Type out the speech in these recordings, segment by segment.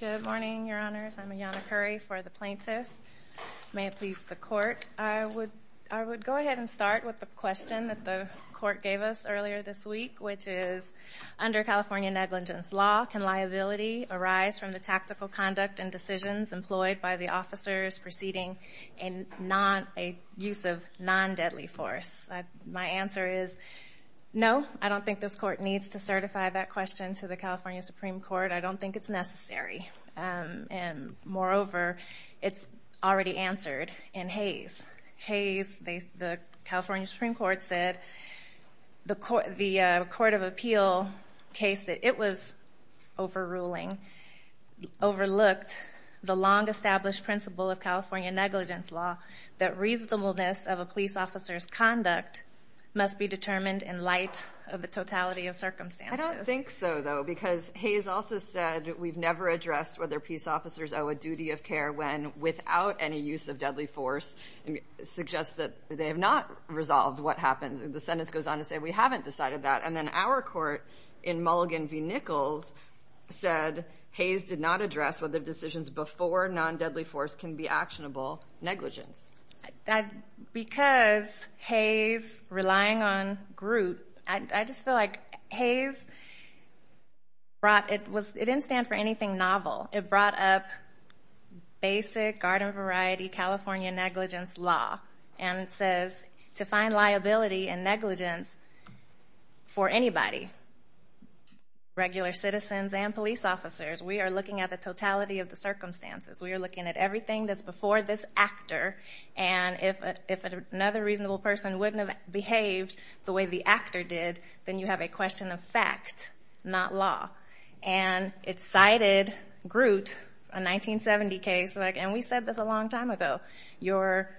Good morning, your honors. I'm Ayanna Curry for the plaintiff. May it please the court. I would go ahead and start with the question that the court gave us earlier this week, which is, under California negligence law, can liability arise from the tactical conduct and decisions employed by the officers preceding a use of non-deadly force? My answer is no. I don't think this court needs to certify that question to the court. And moreover, it's already answered in Hays. Hays, the California Supreme Court said, the Court of Appeal case that it was overruling overlooked the long-established principle of California negligence law that reasonableness of a police officer's conduct must be determined in light of the totality of circumstances. I don't think so, though, because Hays also said we've never addressed whether peace officers owe a duty of care when, without any use of deadly force, suggests that they have not resolved what happened. The sentence goes on to say we haven't decided that. And then our court, in Mulligan v. Nichols, said Hays did not address whether decisions before non-deadly force can be actionable negligence. Because Hays relying on Groot, I just feel like Hays brought, it didn't stand for anything novel. It brought up basic, garden variety, California negligence law. And it says to find liability and negligence for anybody, regular citizens and police officers, we are looking at the totality of the circumstances. We are looking at everything that's before this actor. And if another reasonable person wouldn't have behaved the way the actor did, then you have a question of fact, not law. And it cited Groot, a 1970 case, and we said this a long time ago, your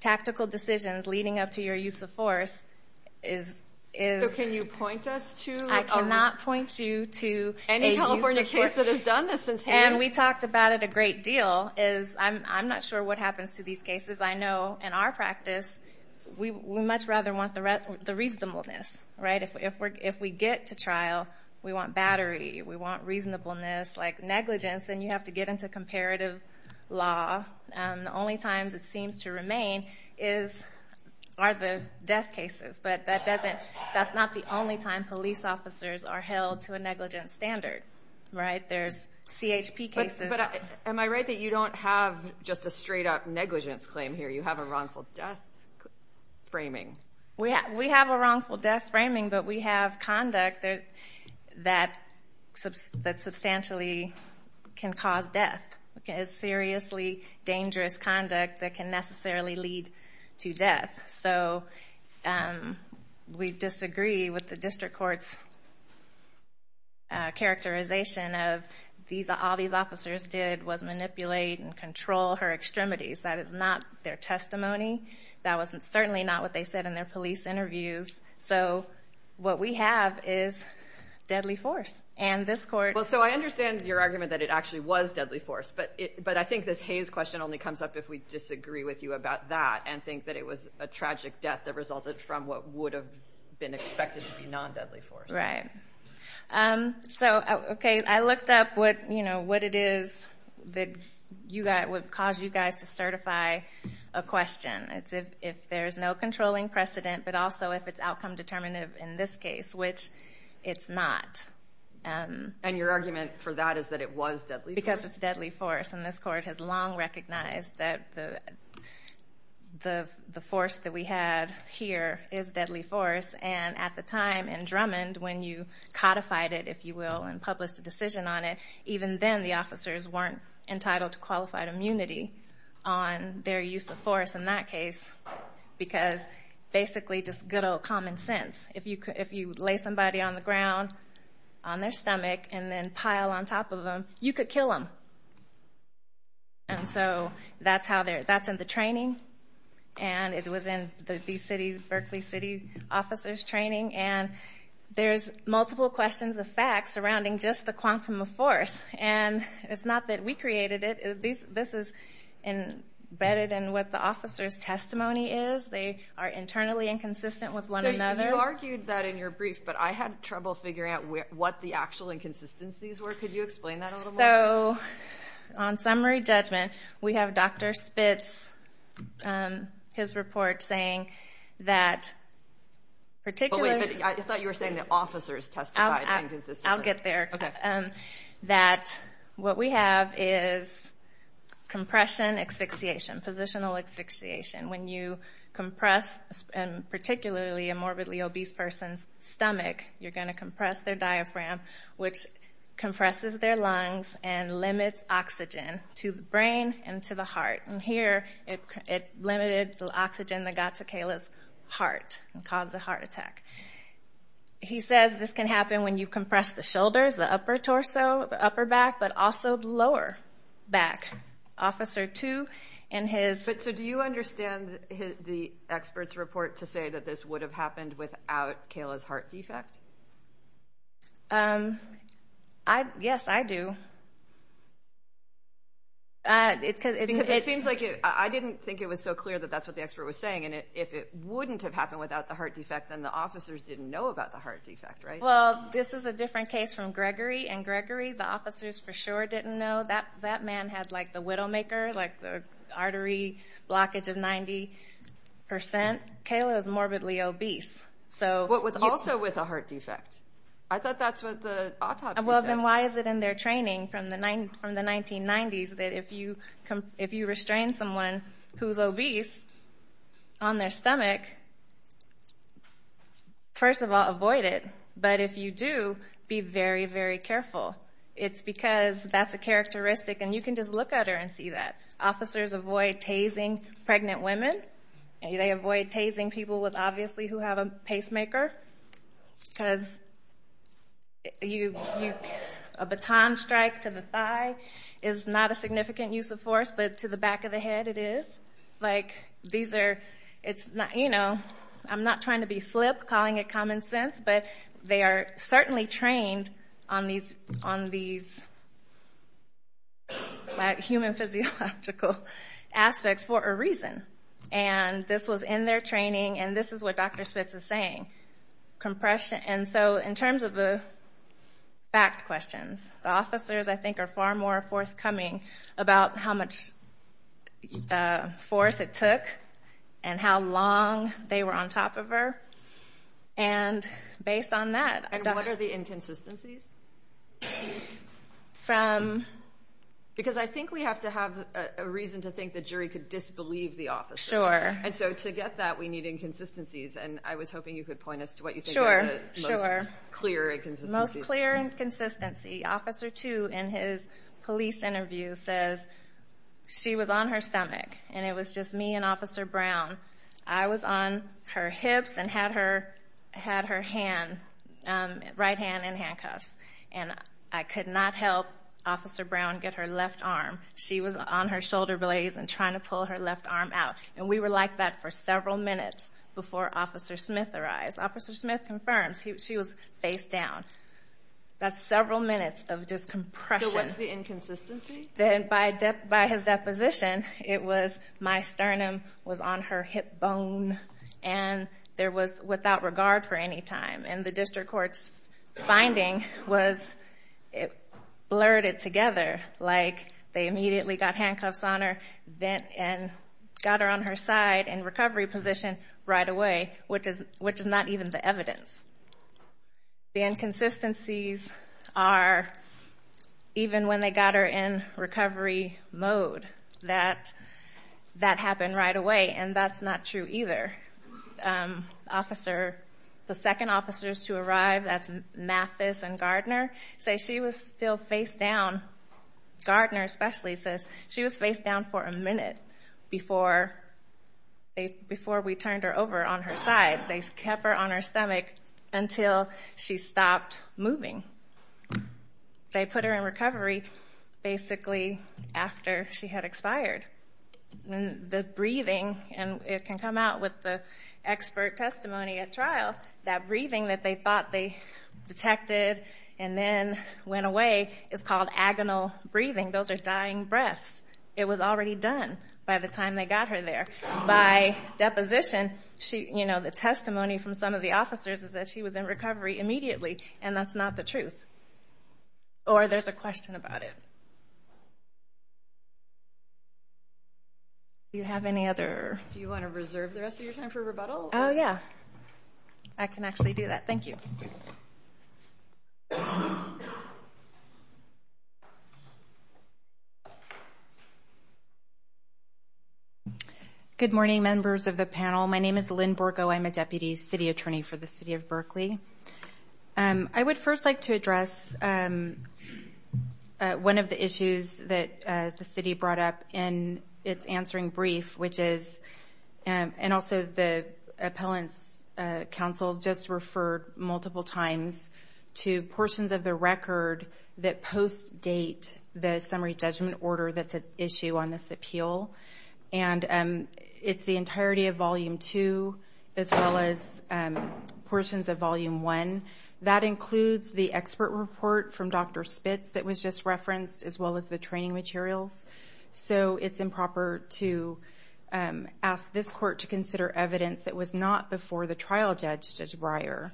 tactical decisions leading up to your use of force is... I'm not sure what happens to these cases. I know, in our practice, we much rather want the reasonableness, right? If we get to trial, we want battery, we want reasonableness. Like negligence, then you have to get into comparative law. The only times it seems to remain are the death cases. But that's not the only time police officers are held to a negligence standard, right? There's CHP cases... But am I right that you don't have just a straight-up negligence claim here? You have a wrongful death framing? We have a wrongful death framing, but we have conduct that substantially can cause death. It's seriously dangerous conduct that can necessarily lead to death. So we disagree with the district court's characterization of all these officers did was manipulate and control her extremities. That is not their testimony. That was certainly not what they said in their police interviews. So what we have is deadly force. And this court... Well, so I understand your argument that it actually was deadly force, but I think this Hays question only comes up if we disagree with you about that and think that it was a tragic death that resulted from what would have been expected to be non-deadly force. Right. So, okay, I looked up what it is that would cause you guys to certify a question. It's if there's no controlling precedent, but also if it's outcome determinative in this case, which it's not. And your argument for that is that it was deadly force? codified it, if you will, and published a decision on it, even then the officers weren't entitled to qualified immunity on their use of force in that case because basically just good old common sense. If you lay somebody on the ground on their stomach and then pile on top of them, you could kill them. And so that's in the training. And it was in the Berkeley City officers training. And there's multiple questions of facts surrounding just the quantum of force. And it's not that we created it. This is embedded in what the officer's testimony is. They are internally inconsistent with one another. So you argued that in your brief, but I had trouble figuring out what the actual inconsistencies were. Could you explain that a little more? So on summary judgment, we have Dr. Spitz, his report saying that particularly... I thought you were saying that officers testified inconsistently. and limits oxygen to the brain and to the heart. And here it limited the oxygen that got to Kayla's heart and caused a heart attack. He says this can happen when you compress the shoulders, the upper torso, the upper back, but also the lower back. Officer 2 and his... But so do you understand the expert's report to say that this would have happened without Kayla's heart defect? Yes, I do. It seems like I didn't think it was so clear that that's what the expert was saying. And if it wouldn't have happened without the heart defect, then the officers didn't know about the heart defect, right? Well, this is a different case from Gregory. And Gregory, the officers for sure didn't know that that man had like the Widowmaker, like the artery blockage of 90%. Kayla is morbidly obese. But also with a heart defect. I thought that's what the autopsy said. Well, then why is it in their training from the 1990s that if you restrain someone who's obese on their stomach, first of all, avoid it. But if you do, be very, very careful. It's because that's a characteristic, and you can just look at her and see that. Officers avoid tasing pregnant women. They avoid tasing people with obviously who have a pacemaker. Because a baton strike to the thigh is not a significant use of force, but to the back of the head it is. These are, it's not, you know, I'm not trying to be flip, calling it common sense, but they are certainly trained on these human physiological aspects for a reason. And this was in their training, and this is what Dr. Spitz is saying. Compression, and so in terms of the fact questions, the officers I think are far more forthcoming about how much force it took and how long they were on top of her. And based on that. And what are the inconsistencies? Because I think we have to have a reason to think the jury could disbelieve the officers. Sure. And so to get that, we need inconsistencies, and I was hoping you could point us to what you think are the most clear inconsistencies. Officer 2 in his police interview says she was on her stomach, and it was just me and Officer Brown. I was on her hips and had her hand, right hand in handcuffs, and I could not help Officer Brown get her left arm. She was on her shoulder blades and trying to pull her left arm out. And we were like that for several minutes before Officer Smith arrived. Officer Smith confirms she was face down. That's several minutes of just compression. So what's the inconsistency? By his deposition, it was my sternum was on her hip bone, and there was without regard for any time. And the district court's finding was it blurred it together, like they immediately got handcuffs on her, and got her on her side in recovery position right away, which is not even the evidence. The inconsistencies are even when they got her in recovery mode, that that happened right away, and that's not true either. Officer, the second officers to arrive, that's Mathis and Gardner, say she was still face down. Gardner especially says she was face down for a minute before we turned her over on her side. They kept her on her stomach until she stopped moving. They put her in recovery basically after she had expired. The breathing, and it can come out with the expert testimony at trial, that breathing that they thought they detected and then went away is called agonal breathing. Those are dying breaths. It was already done by the time they got her there. By deposition, the testimony from some of the officers is that she was in recovery immediately, and that's not the truth. Or there's a question about it. Do you have any other? Do you want to reserve the rest of your time for rebuttal? Oh, yeah. I can actually do that. Thank you. Good morning, members of the panel. My name is Lynn Borgo. I'm a deputy city attorney for the city of Berkeley. I would first like to address one of the issues that the city brought up in its answering brief, and also the appellant's counsel just referred multiple times to portions of the record that post-date the summary judgment order that's at issue on this appeal. It's the entirety of Volume 2, as well as portions of Volume 1. That includes the expert report from Dr. Spitz that was just referenced, as well as the training materials. So it's improper to ask this court to consider evidence that was not before the trial judge, Judge Breyer.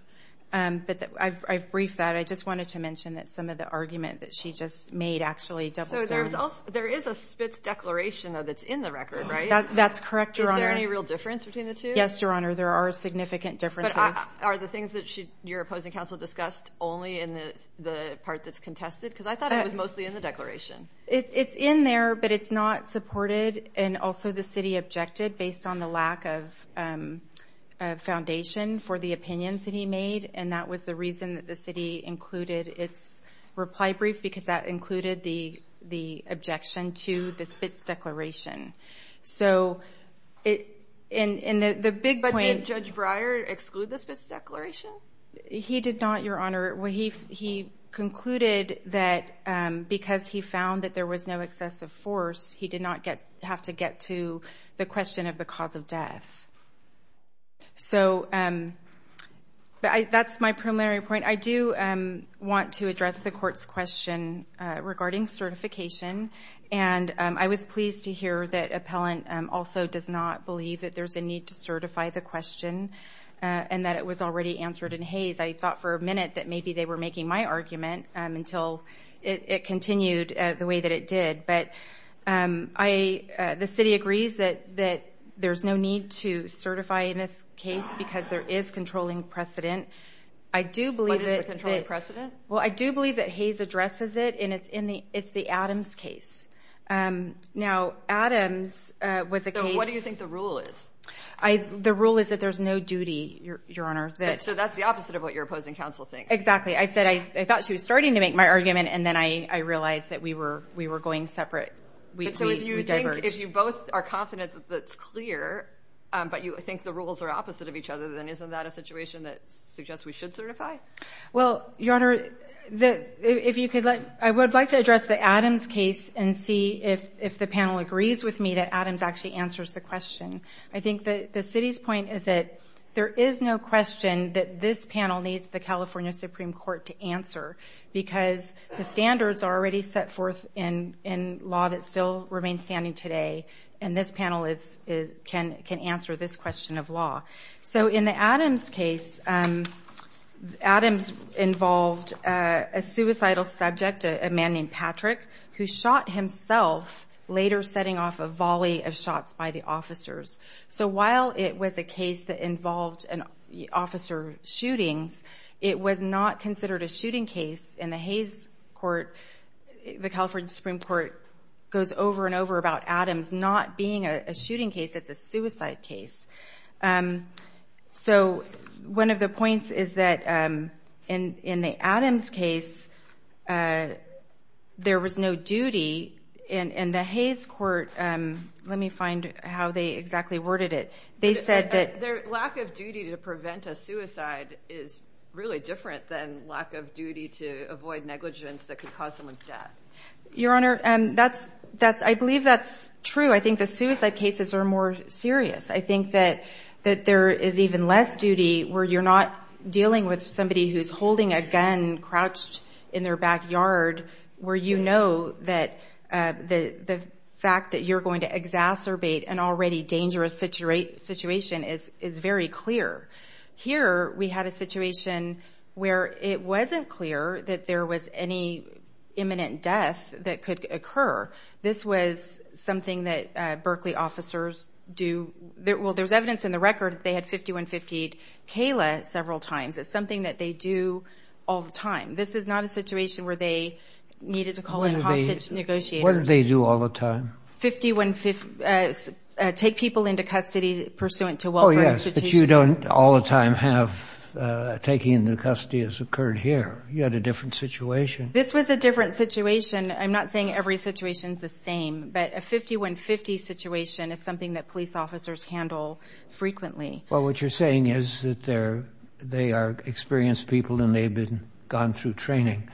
But I've briefed that. I just wanted to mention that some of the argument that she just made actually doubles down. So there is a Spitz declaration, though, that's in the record, right? That's correct, Your Honor. Is there any real difference between the two? Yes, Your Honor, there are significant differences. But are the things that your opposing counsel discussed only in the part that's contested? Because I thought it was mostly in the declaration. It's in there, but it's not supported. And also the city objected based on the lack of foundation for the opinions that he made, and that was the reason that the city included its reply brief, because that included the objection to the Spitz declaration. So the big point – But did Judge Breyer exclude the Spitz declaration? He did not, Your Honor. He concluded that because he found that there was no excessive force, he did not have to get to the question of the cause of death. So that's my primary point. I do want to address the court's question regarding certification, and I was pleased to hear that appellant also does not believe that there's a need to certify the question and that it was already answered in Hays. I thought for a minute that maybe they were making my argument until it continued the way that it did. But the city agrees that there's no need to certify in this case because there is controlling precedent. I do believe that – What is the controlling precedent? Well, I do believe that Hays addresses it, and it's the Adams case. Now, Adams was a case – So what do you think the rule is? The rule is that there's no duty, Your Honor. So that's the opposite of what your opposing counsel thinks. Exactly. I said I thought she was starting to make my argument, and then I realized that we were going separate. But so if you think – We diverged. If you both are confident that that's clear, but you think the rules are opposite of each other, then isn't that a situation that suggests we should certify? Well, Your Honor, if you could let – I would like to address the Adams case and see if the panel agrees with me that Adams actually answers the question. I think the city's point is that there is no question that this panel needs the California Supreme Court to answer because the standards are already set forth in law that still remains standing today, and this panel can answer this question of law. So in the Adams case, Adams involved a suicidal subject, a man named Patrick, who shot himself, later setting off a volley of shots by the officers. So while it was a case that involved officer shootings, it was not considered a shooting case. In the Hayes court, the California Supreme Court goes over and over about Adams not being a shooting case. It's a suicide case. So one of the points is that in the Adams case, there was no duty in the Hayes court. Let me find how they exactly worded it. They said that lack of duty to prevent a suicide is really different than lack of duty to avoid negligence that could cause someone's death. Your Honor, I believe that's true. I think the suicide cases are more serious. I think that there is even less duty where you're not dealing with somebody who's holding a gun crouched in their backyard, where you know that the fact that you're going to exacerbate an already dangerous situation is very clear. Here, we had a situation where it wasn't clear that there was any imminent death that could occur. This was something that Berkeley officers do. Well, there's evidence in the record that they had 51-58 Kayla several times. It's something that they do all the time. This is not a situation where they needed to call in hostage negotiators. What did they do all the time? Take people into custody pursuant to welfare institutions. Oh, yes, but you don't all the time have taking into custody as occurred here. You had a different situation. This was a different situation. I'm not saying every situation is the same, but a 51-50 situation is something that police officers handle frequently. Well, what you're saying is that they are experienced people and they've been gone through training.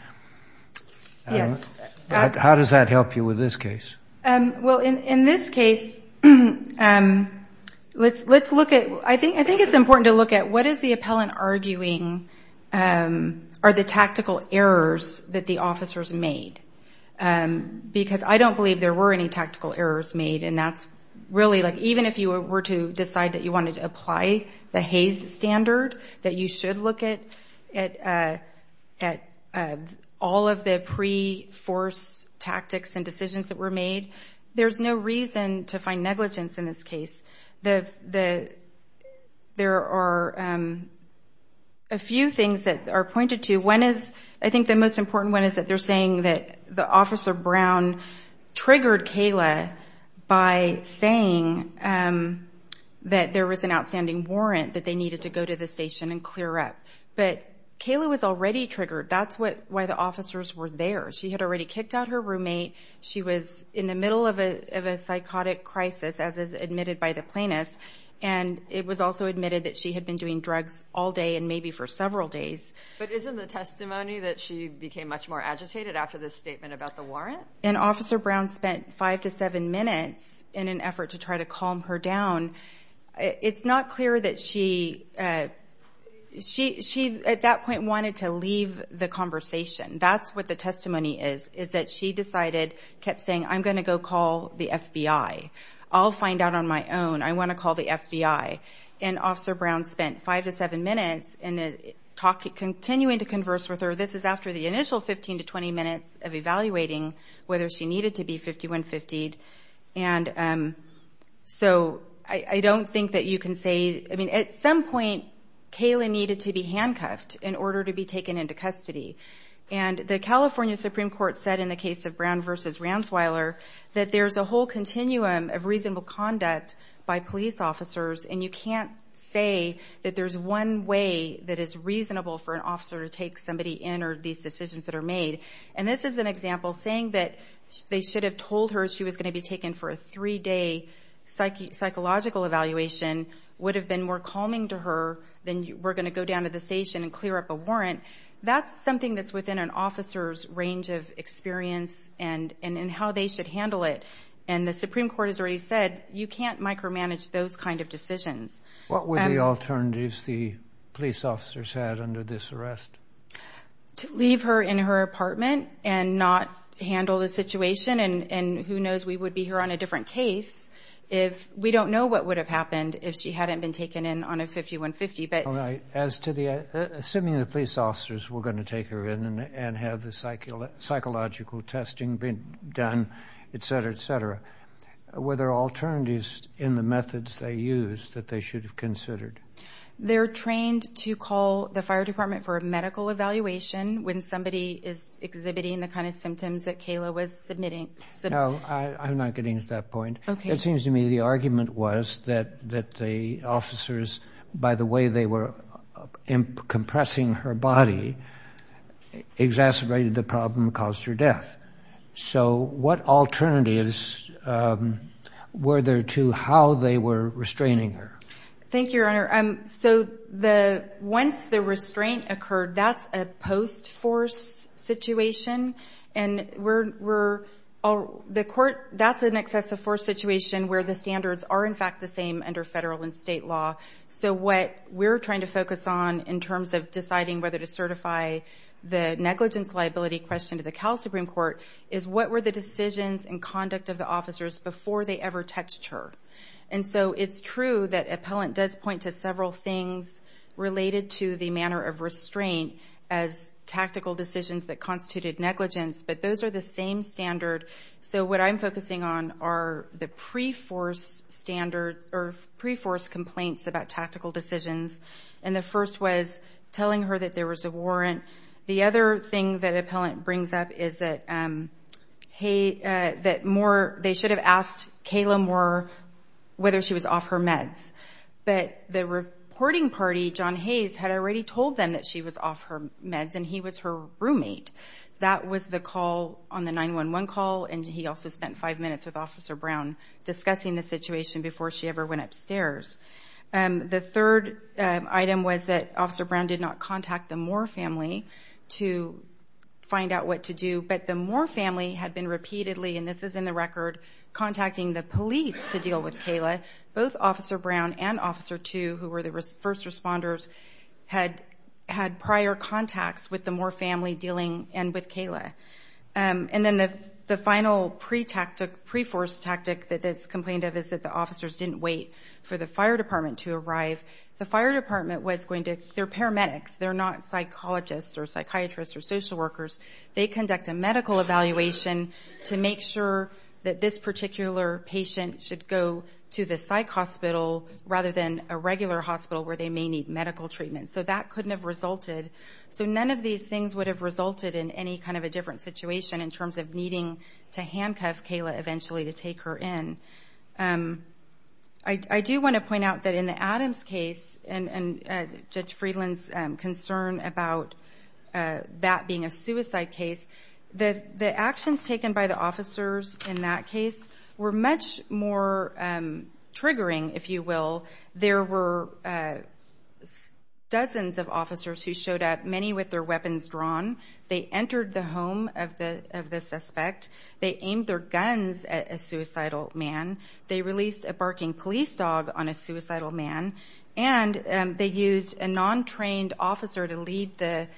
Yes. How does that help you with this case? Well, in this case, let's look at – I think it's important to look at what is the appellant arguing are the tactical errors that the officers made, because I don't believe there were any tactical errors made, and that's really like even if you were to decide that you wanted to apply the Hays standard, that you should look at all of the pre-force tactics and decisions that were made, there's no reason to find negligence in this case. There are a few things that are pointed to. One is – I think the most important one is that they're saying that the officer, Brown, triggered Kayla by saying that there was an outstanding warrant, that they needed to go to the station and clear up. But Kayla was already triggered. That's why the officers were there. She had already kicked out her roommate. She was in the middle of a psychotic crisis, as is admitted by the plaintiff, and it was also admitted that she had been doing drugs all day and maybe for several days. But isn't the testimony that she became much more agitated after this statement about the warrant? And Officer Brown spent five to seven minutes in an effort to try to calm her down. It's not clear that she at that point wanted to leave the conversation. That's what the testimony is, is that she decided, kept saying, I'm going to go call the FBI. I'll find out on my own. I want to call the FBI. And Officer Brown spent five to seven minutes in continuing to converse with her. This is after the initial 15 to 20 minutes of evaluating whether she needed to be 5150'd. And so I don't think that you can say, I mean, at some point Kayla needed to be handcuffed in order to be taken into custody. And the California Supreme Court said in the case of Brown v. Ransweiler that there's a whole continuum of reasonable conduct by police officers, and you can't say that there's one way that is reasonable for an officer to take somebody in or these decisions that are made. And this is an example, saying that they should have told her she was going to be taken for a three-day psychological evaluation would have been more calming to her than we're going to go down to the station and clear up a warrant. That's something that's within an officer's range of experience and how they should handle it. And the Supreme Court has already said you can't micromanage those kind of decisions. What were the alternatives the police officers had under this arrest? To leave her in her apartment and not handle the situation, and who knows, we would be here on a different case if we don't know what would have happened if she hadn't been taken in on a 5150. Assuming the police officers were going to take her in and have the psychological testing done, etc., etc., were there alternatives in the methods they used that they should have considered? They're trained to call the fire department for a medical evaluation when somebody is exhibiting the kind of symptoms that Kayla was submitting. No, I'm not getting to that point. It seems to me the argument was that the officers, by the way they were compressing her body, exacerbated the problem that caused her death. So what alternatives were there to how they were restraining her? Thank you, Your Honor. So once the restraint occurred, that's a post-force situation, and that's an excessive force situation where the standards are in fact the same under federal and state law. So what we're trying to focus on in terms of deciding whether to certify the negligence liability question to the Cal Supreme Court is what were the decisions and conduct of the officers before they ever touched her? And so it's true that appellant does point to several things related to the manner of restraint as tactical decisions that constituted negligence, but those are the same standard. So what I'm focusing on are the pre-force standards or pre-force complaints about tactical decisions, and the first was telling her that there was a warrant. The other thing that appellant brings up is that they should have asked Kayla Moore whether she was off her meds, but the reporting party, John Hayes, had already told them that she was off her meds and he was her roommate. That was the call on the 911 call, and he also spent five minutes with Officer Brown discussing the situation before she ever went upstairs. The third item was that Officer Brown did not contact the Moore family to find out what to do, but the Moore family had been repeatedly, and this is in the record, contacting the police to deal with Kayla. Both Officer Brown and Officer Two, who were the first responders, had prior contacts with the Moore family dealing with Kayla. And then the final pre-tactic, pre-force tactic that's complained of is that the officers didn't wait for the fire department to arrive. The fire department was going to – they're paramedics. They're not psychologists or psychiatrists or social workers. They conduct a medical evaluation to make sure that this particular patient should go to the psych hospital rather than a regular hospital where they may need medical treatment. So that couldn't have resulted. So none of these things would have resulted in any kind of a different situation in terms of needing to handcuff Kayla eventually to take her in. I do want to point out that in the Adams case, and Judge Friedland's concern about that being a suicide case, the actions taken by the officers in that case were much more triggering, if you will. There were dozens of officers who showed up, many with their weapons drawn. They entered the home of the suspect. They aimed their guns at a suicidal man. They released a barking police dog on a suicidal man. And they used a non-trained officer to lead the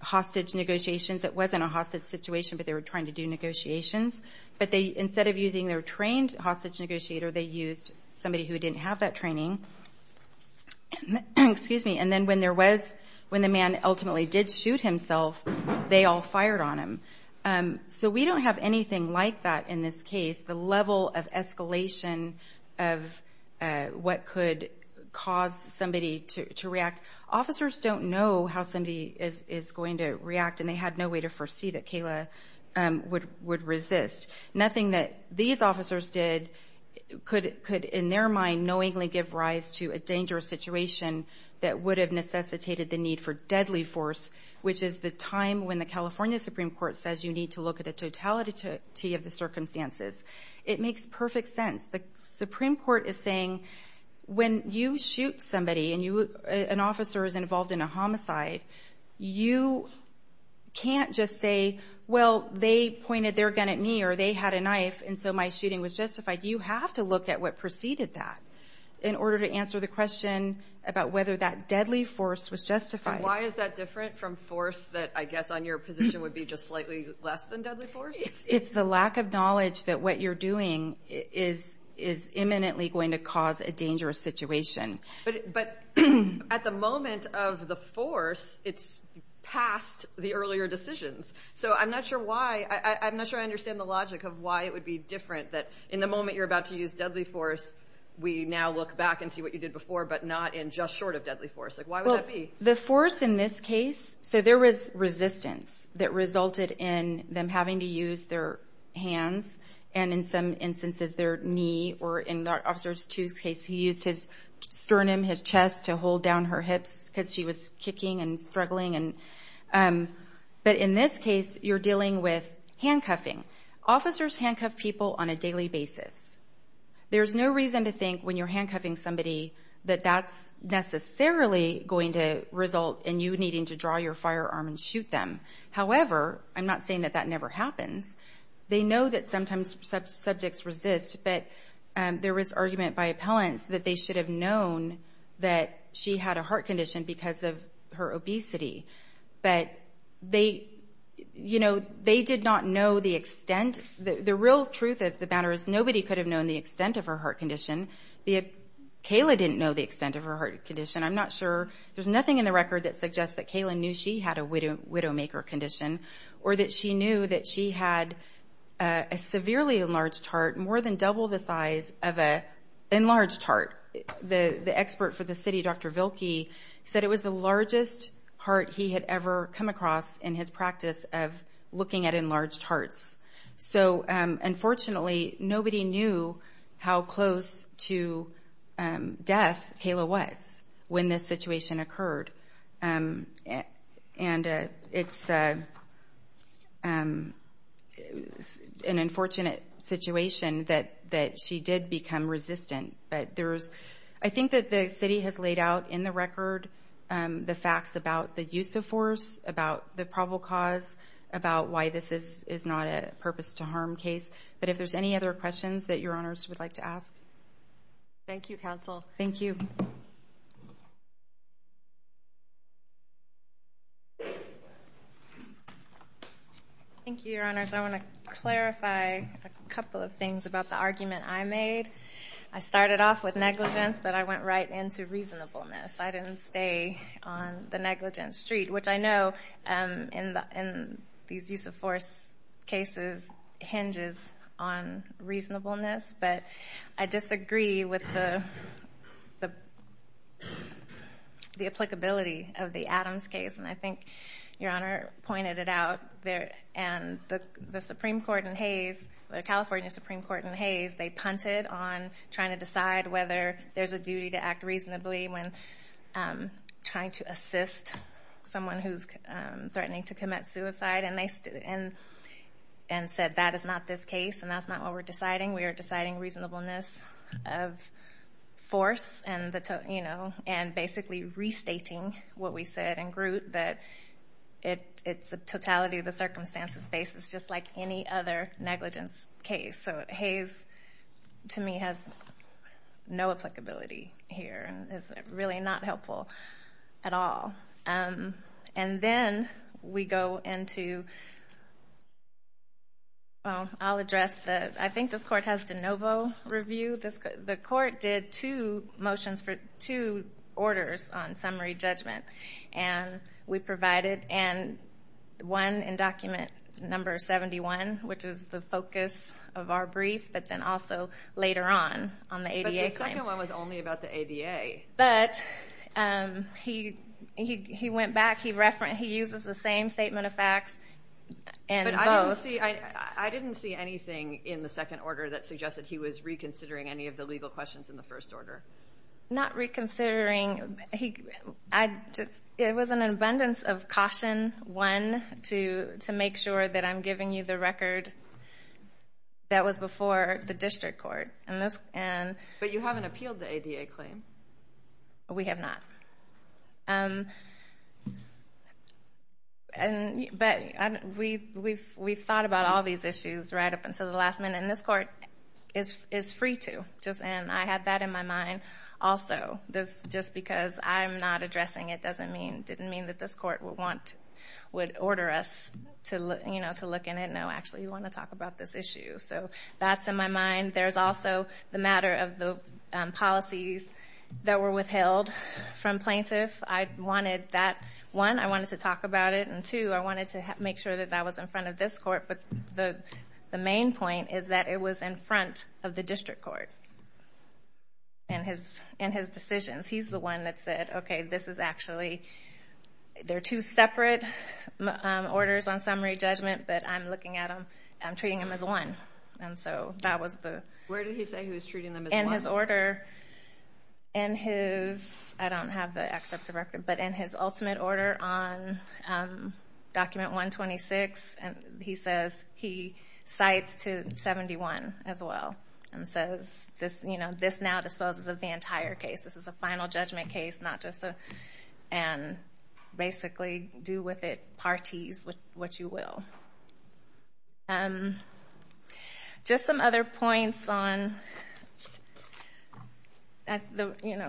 hostage negotiations. It wasn't a hostage situation, but they were trying to do negotiations. But instead of using their trained hostage negotiator, they used somebody who didn't have that training. And then when the man ultimately did shoot himself, they all fired on him. So we don't have anything like that in this case, the level of escalation of what could cause somebody to react. Officers don't know how somebody is going to react, and they had no way to foresee that Kayla would resist. Nothing that these officers did could, in their mind, knowingly give rise to a dangerous situation that would have necessitated the need for deadly force, which is the time when the California Supreme Court says you need to look at the totality of the circumstances. It makes perfect sense. The Supreme Court is saying when you shoot somebody and an officer is involved in a homicide, you can't just say, well, they pointed their gun at me or they had a knife, and so my shooting was justified. You have to look at what preceded that in order to answer the question about whether that deadly force was justified. And why is that different from force that I guess on your position would be just slightly less than deadly force? It's the lack of knowledge that what you're doing is imminently going to cause a dangerous situation. But at the moment of the force, it's past the earlier decisions. So I'm not sure why. I'm not sure I understand the logic of why it would be different that in the moment you're about to use deadly force, we now look back and see what you did before but not in just short of deadly force. Why would that be? The force in this case, so there was resistance that resulted in them having to use their hands and in some instances their knee or in Officer 2's case, he used his sternum, his chest to hold down her hips because she was kicking and struggling. But in this case, you're dealing with handcuffing. Officers handcuff people on a daily basis. There's no reason to think when you're handcuffing somebody that that's necessarily going to result in you needing to draw your firearm and shoot them. However, I'm not saying that that never happens. They know that sometimes such subjects resist. But there was argument by appellants that they should have known that she had a heart condition because of her obesity. But they, you know, they did not know the extent. The real truth of the matter is nobody could have known the extent of her heart condition. Kayla didn't know the extent of her heart condition. I'm not sure. There's nothing in the record that suggests that Kayla knew she had a widowmaker condition or that she knew that she had a severely enlarged heart more than double the size of an enlarged heart. The expert for the city, Dr. Vilke, said it was the largest heart he had ever come across in his practice of looking at enlarged hearts. So, unfortunately, nobody knew how close to death Kayla was when this situation occurred. And it's an unfortunate situation that she did become resistant. I think that the city has laid out in the record the facts about the use of force, about the probable cause, about why this is not a purpose-to-harm case. But if there's any other questions that Your Honors would like to ask. Thank you, Counsel. Thank you. Thank you, Your Honors. I want to clarify a couple of things about the argument I made. I started off with negligence, but I went right into reasonableness. I didn't stay on the negligence street, which I know in these use-of-force cases hinges on reasonableness. But I disagree with the applicability of the Adams case, and I think Your Honor pointed it out. And the Supreme Court in Hays, the California Supreme Court in Hays, they punted on trying to decide whether there's a duty to act reasonably when trying to assist someone who's threatening to commit suicide. And they said that is not this case, and that's not what we're deciding. We are deciding reasonableness of force and basically restating what we said in Groot, that it's a totality of the circumstances basis, just like any other negligence case. So Hays, to me, has no applicability here and is really not helpful at all. And then we go into, well, I'll address the, I think this court has de novo review. The court did two motions for two orders on summary judgment, and we provided one in document number 71, which is the focus of our brief, but then also later on, on the ADA claim. But the second one was only about the ADA. But he went back. He uses the same statement of facts in both. I didn't see anything in the second order that suggested he was reconsidering any of the legal questions in the first order. Not reconsidering. It was an abundance of caution, one, to make sure that I'm giving you the record that was before the district court. But you haven't appealed the ADA claim. We have not. But we've thought about all these issues right up until the last minute. And this court is free to. And I had that in my mind also. Just because I'm not addressing it didn't mean that this court would order us to look in and know, actually, you want to talk about this issue. So that's in my mind. And there's also the matter of the policies that were withheld from plaintiff. I wanted that, one, I wanted to talk about it. And, two, I wanted to make sure that that was in front of this court. But the main point is that it was in front of the district court in his decisions. He's the one that said, okay, this is actually, they're two separate orders on summary judgment, but I'm looking at them, I'm treating them as one. And so that was the... Where did he say he was treating them as one? In his order, in his, I don't have the excerpt of the record, but in his ultimate order on document 126, he says he cites to 71 as well. And says, you know, this now disposes of the entire case. This is a final judgment case, not just a... Basically do with it parties, what you will. Just some other points on...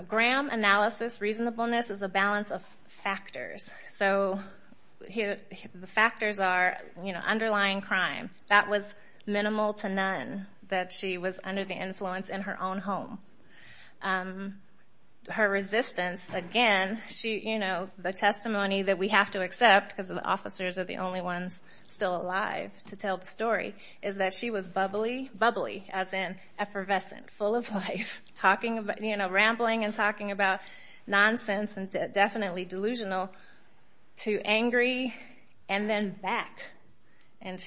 Graham analysis reasonableness is a balance of factors. So the factors are underlying crime. That was minimal to none that she was under the influence in her own home. Her resistance, again, the testimony that we have to accept, because the officers are the only ones still alive to tell the story, is that she was bubbly, bubbly, as in effervescent, full of life, rambling and talking about nonsense and definitely delusional, to angry and then back. And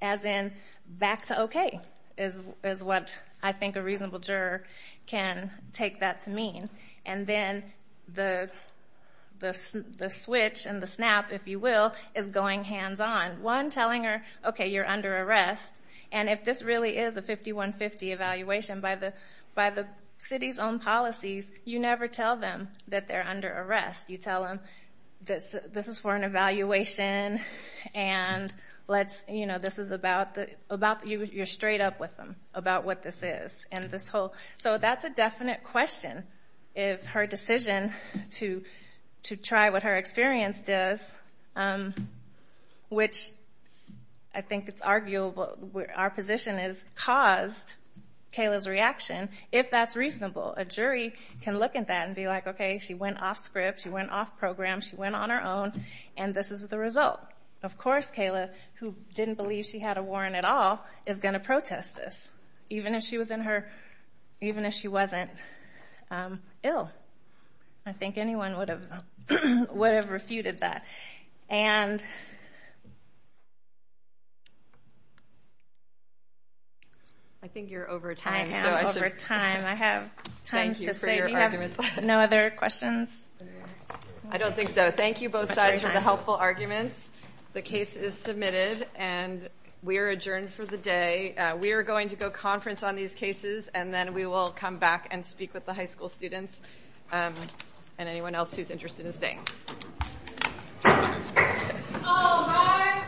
as in back to okay is what I think a reasonable juror can take that to mean. And then the switch and the snap, if you will, is going hands-on. One, telling her, okay, you're under arrest, and if this really is a 5150 evaluation by the city's own policies, you never tell them that they're under arrest. You tell them this is for an evaluation and this is about the... You're straight up with them about what this is. So that's a definite question if her decision to try what her experience does, which I think it's arguable our position has caused Kayla's reaction, if that's reasonable. A jury can look at that and be like, okay, she went off script, she went off program, she went on her own, and this is the result. Of course Kayla, who didn't believe she had a warrant at all, is going to protest this, even if she wasn't ill. I think anyone would have refuted that. And... I think you're over time. I am over time. I have time to save you. Thank you for your arguments. No other questions? I don't think so. Thank you both sides for the helpful arguments. The case is submitted, and we are adjourned for the day. We are going to go conference on these cases, and then we will come back and speak with the high school students and anyone else who is interested in staying. All rise.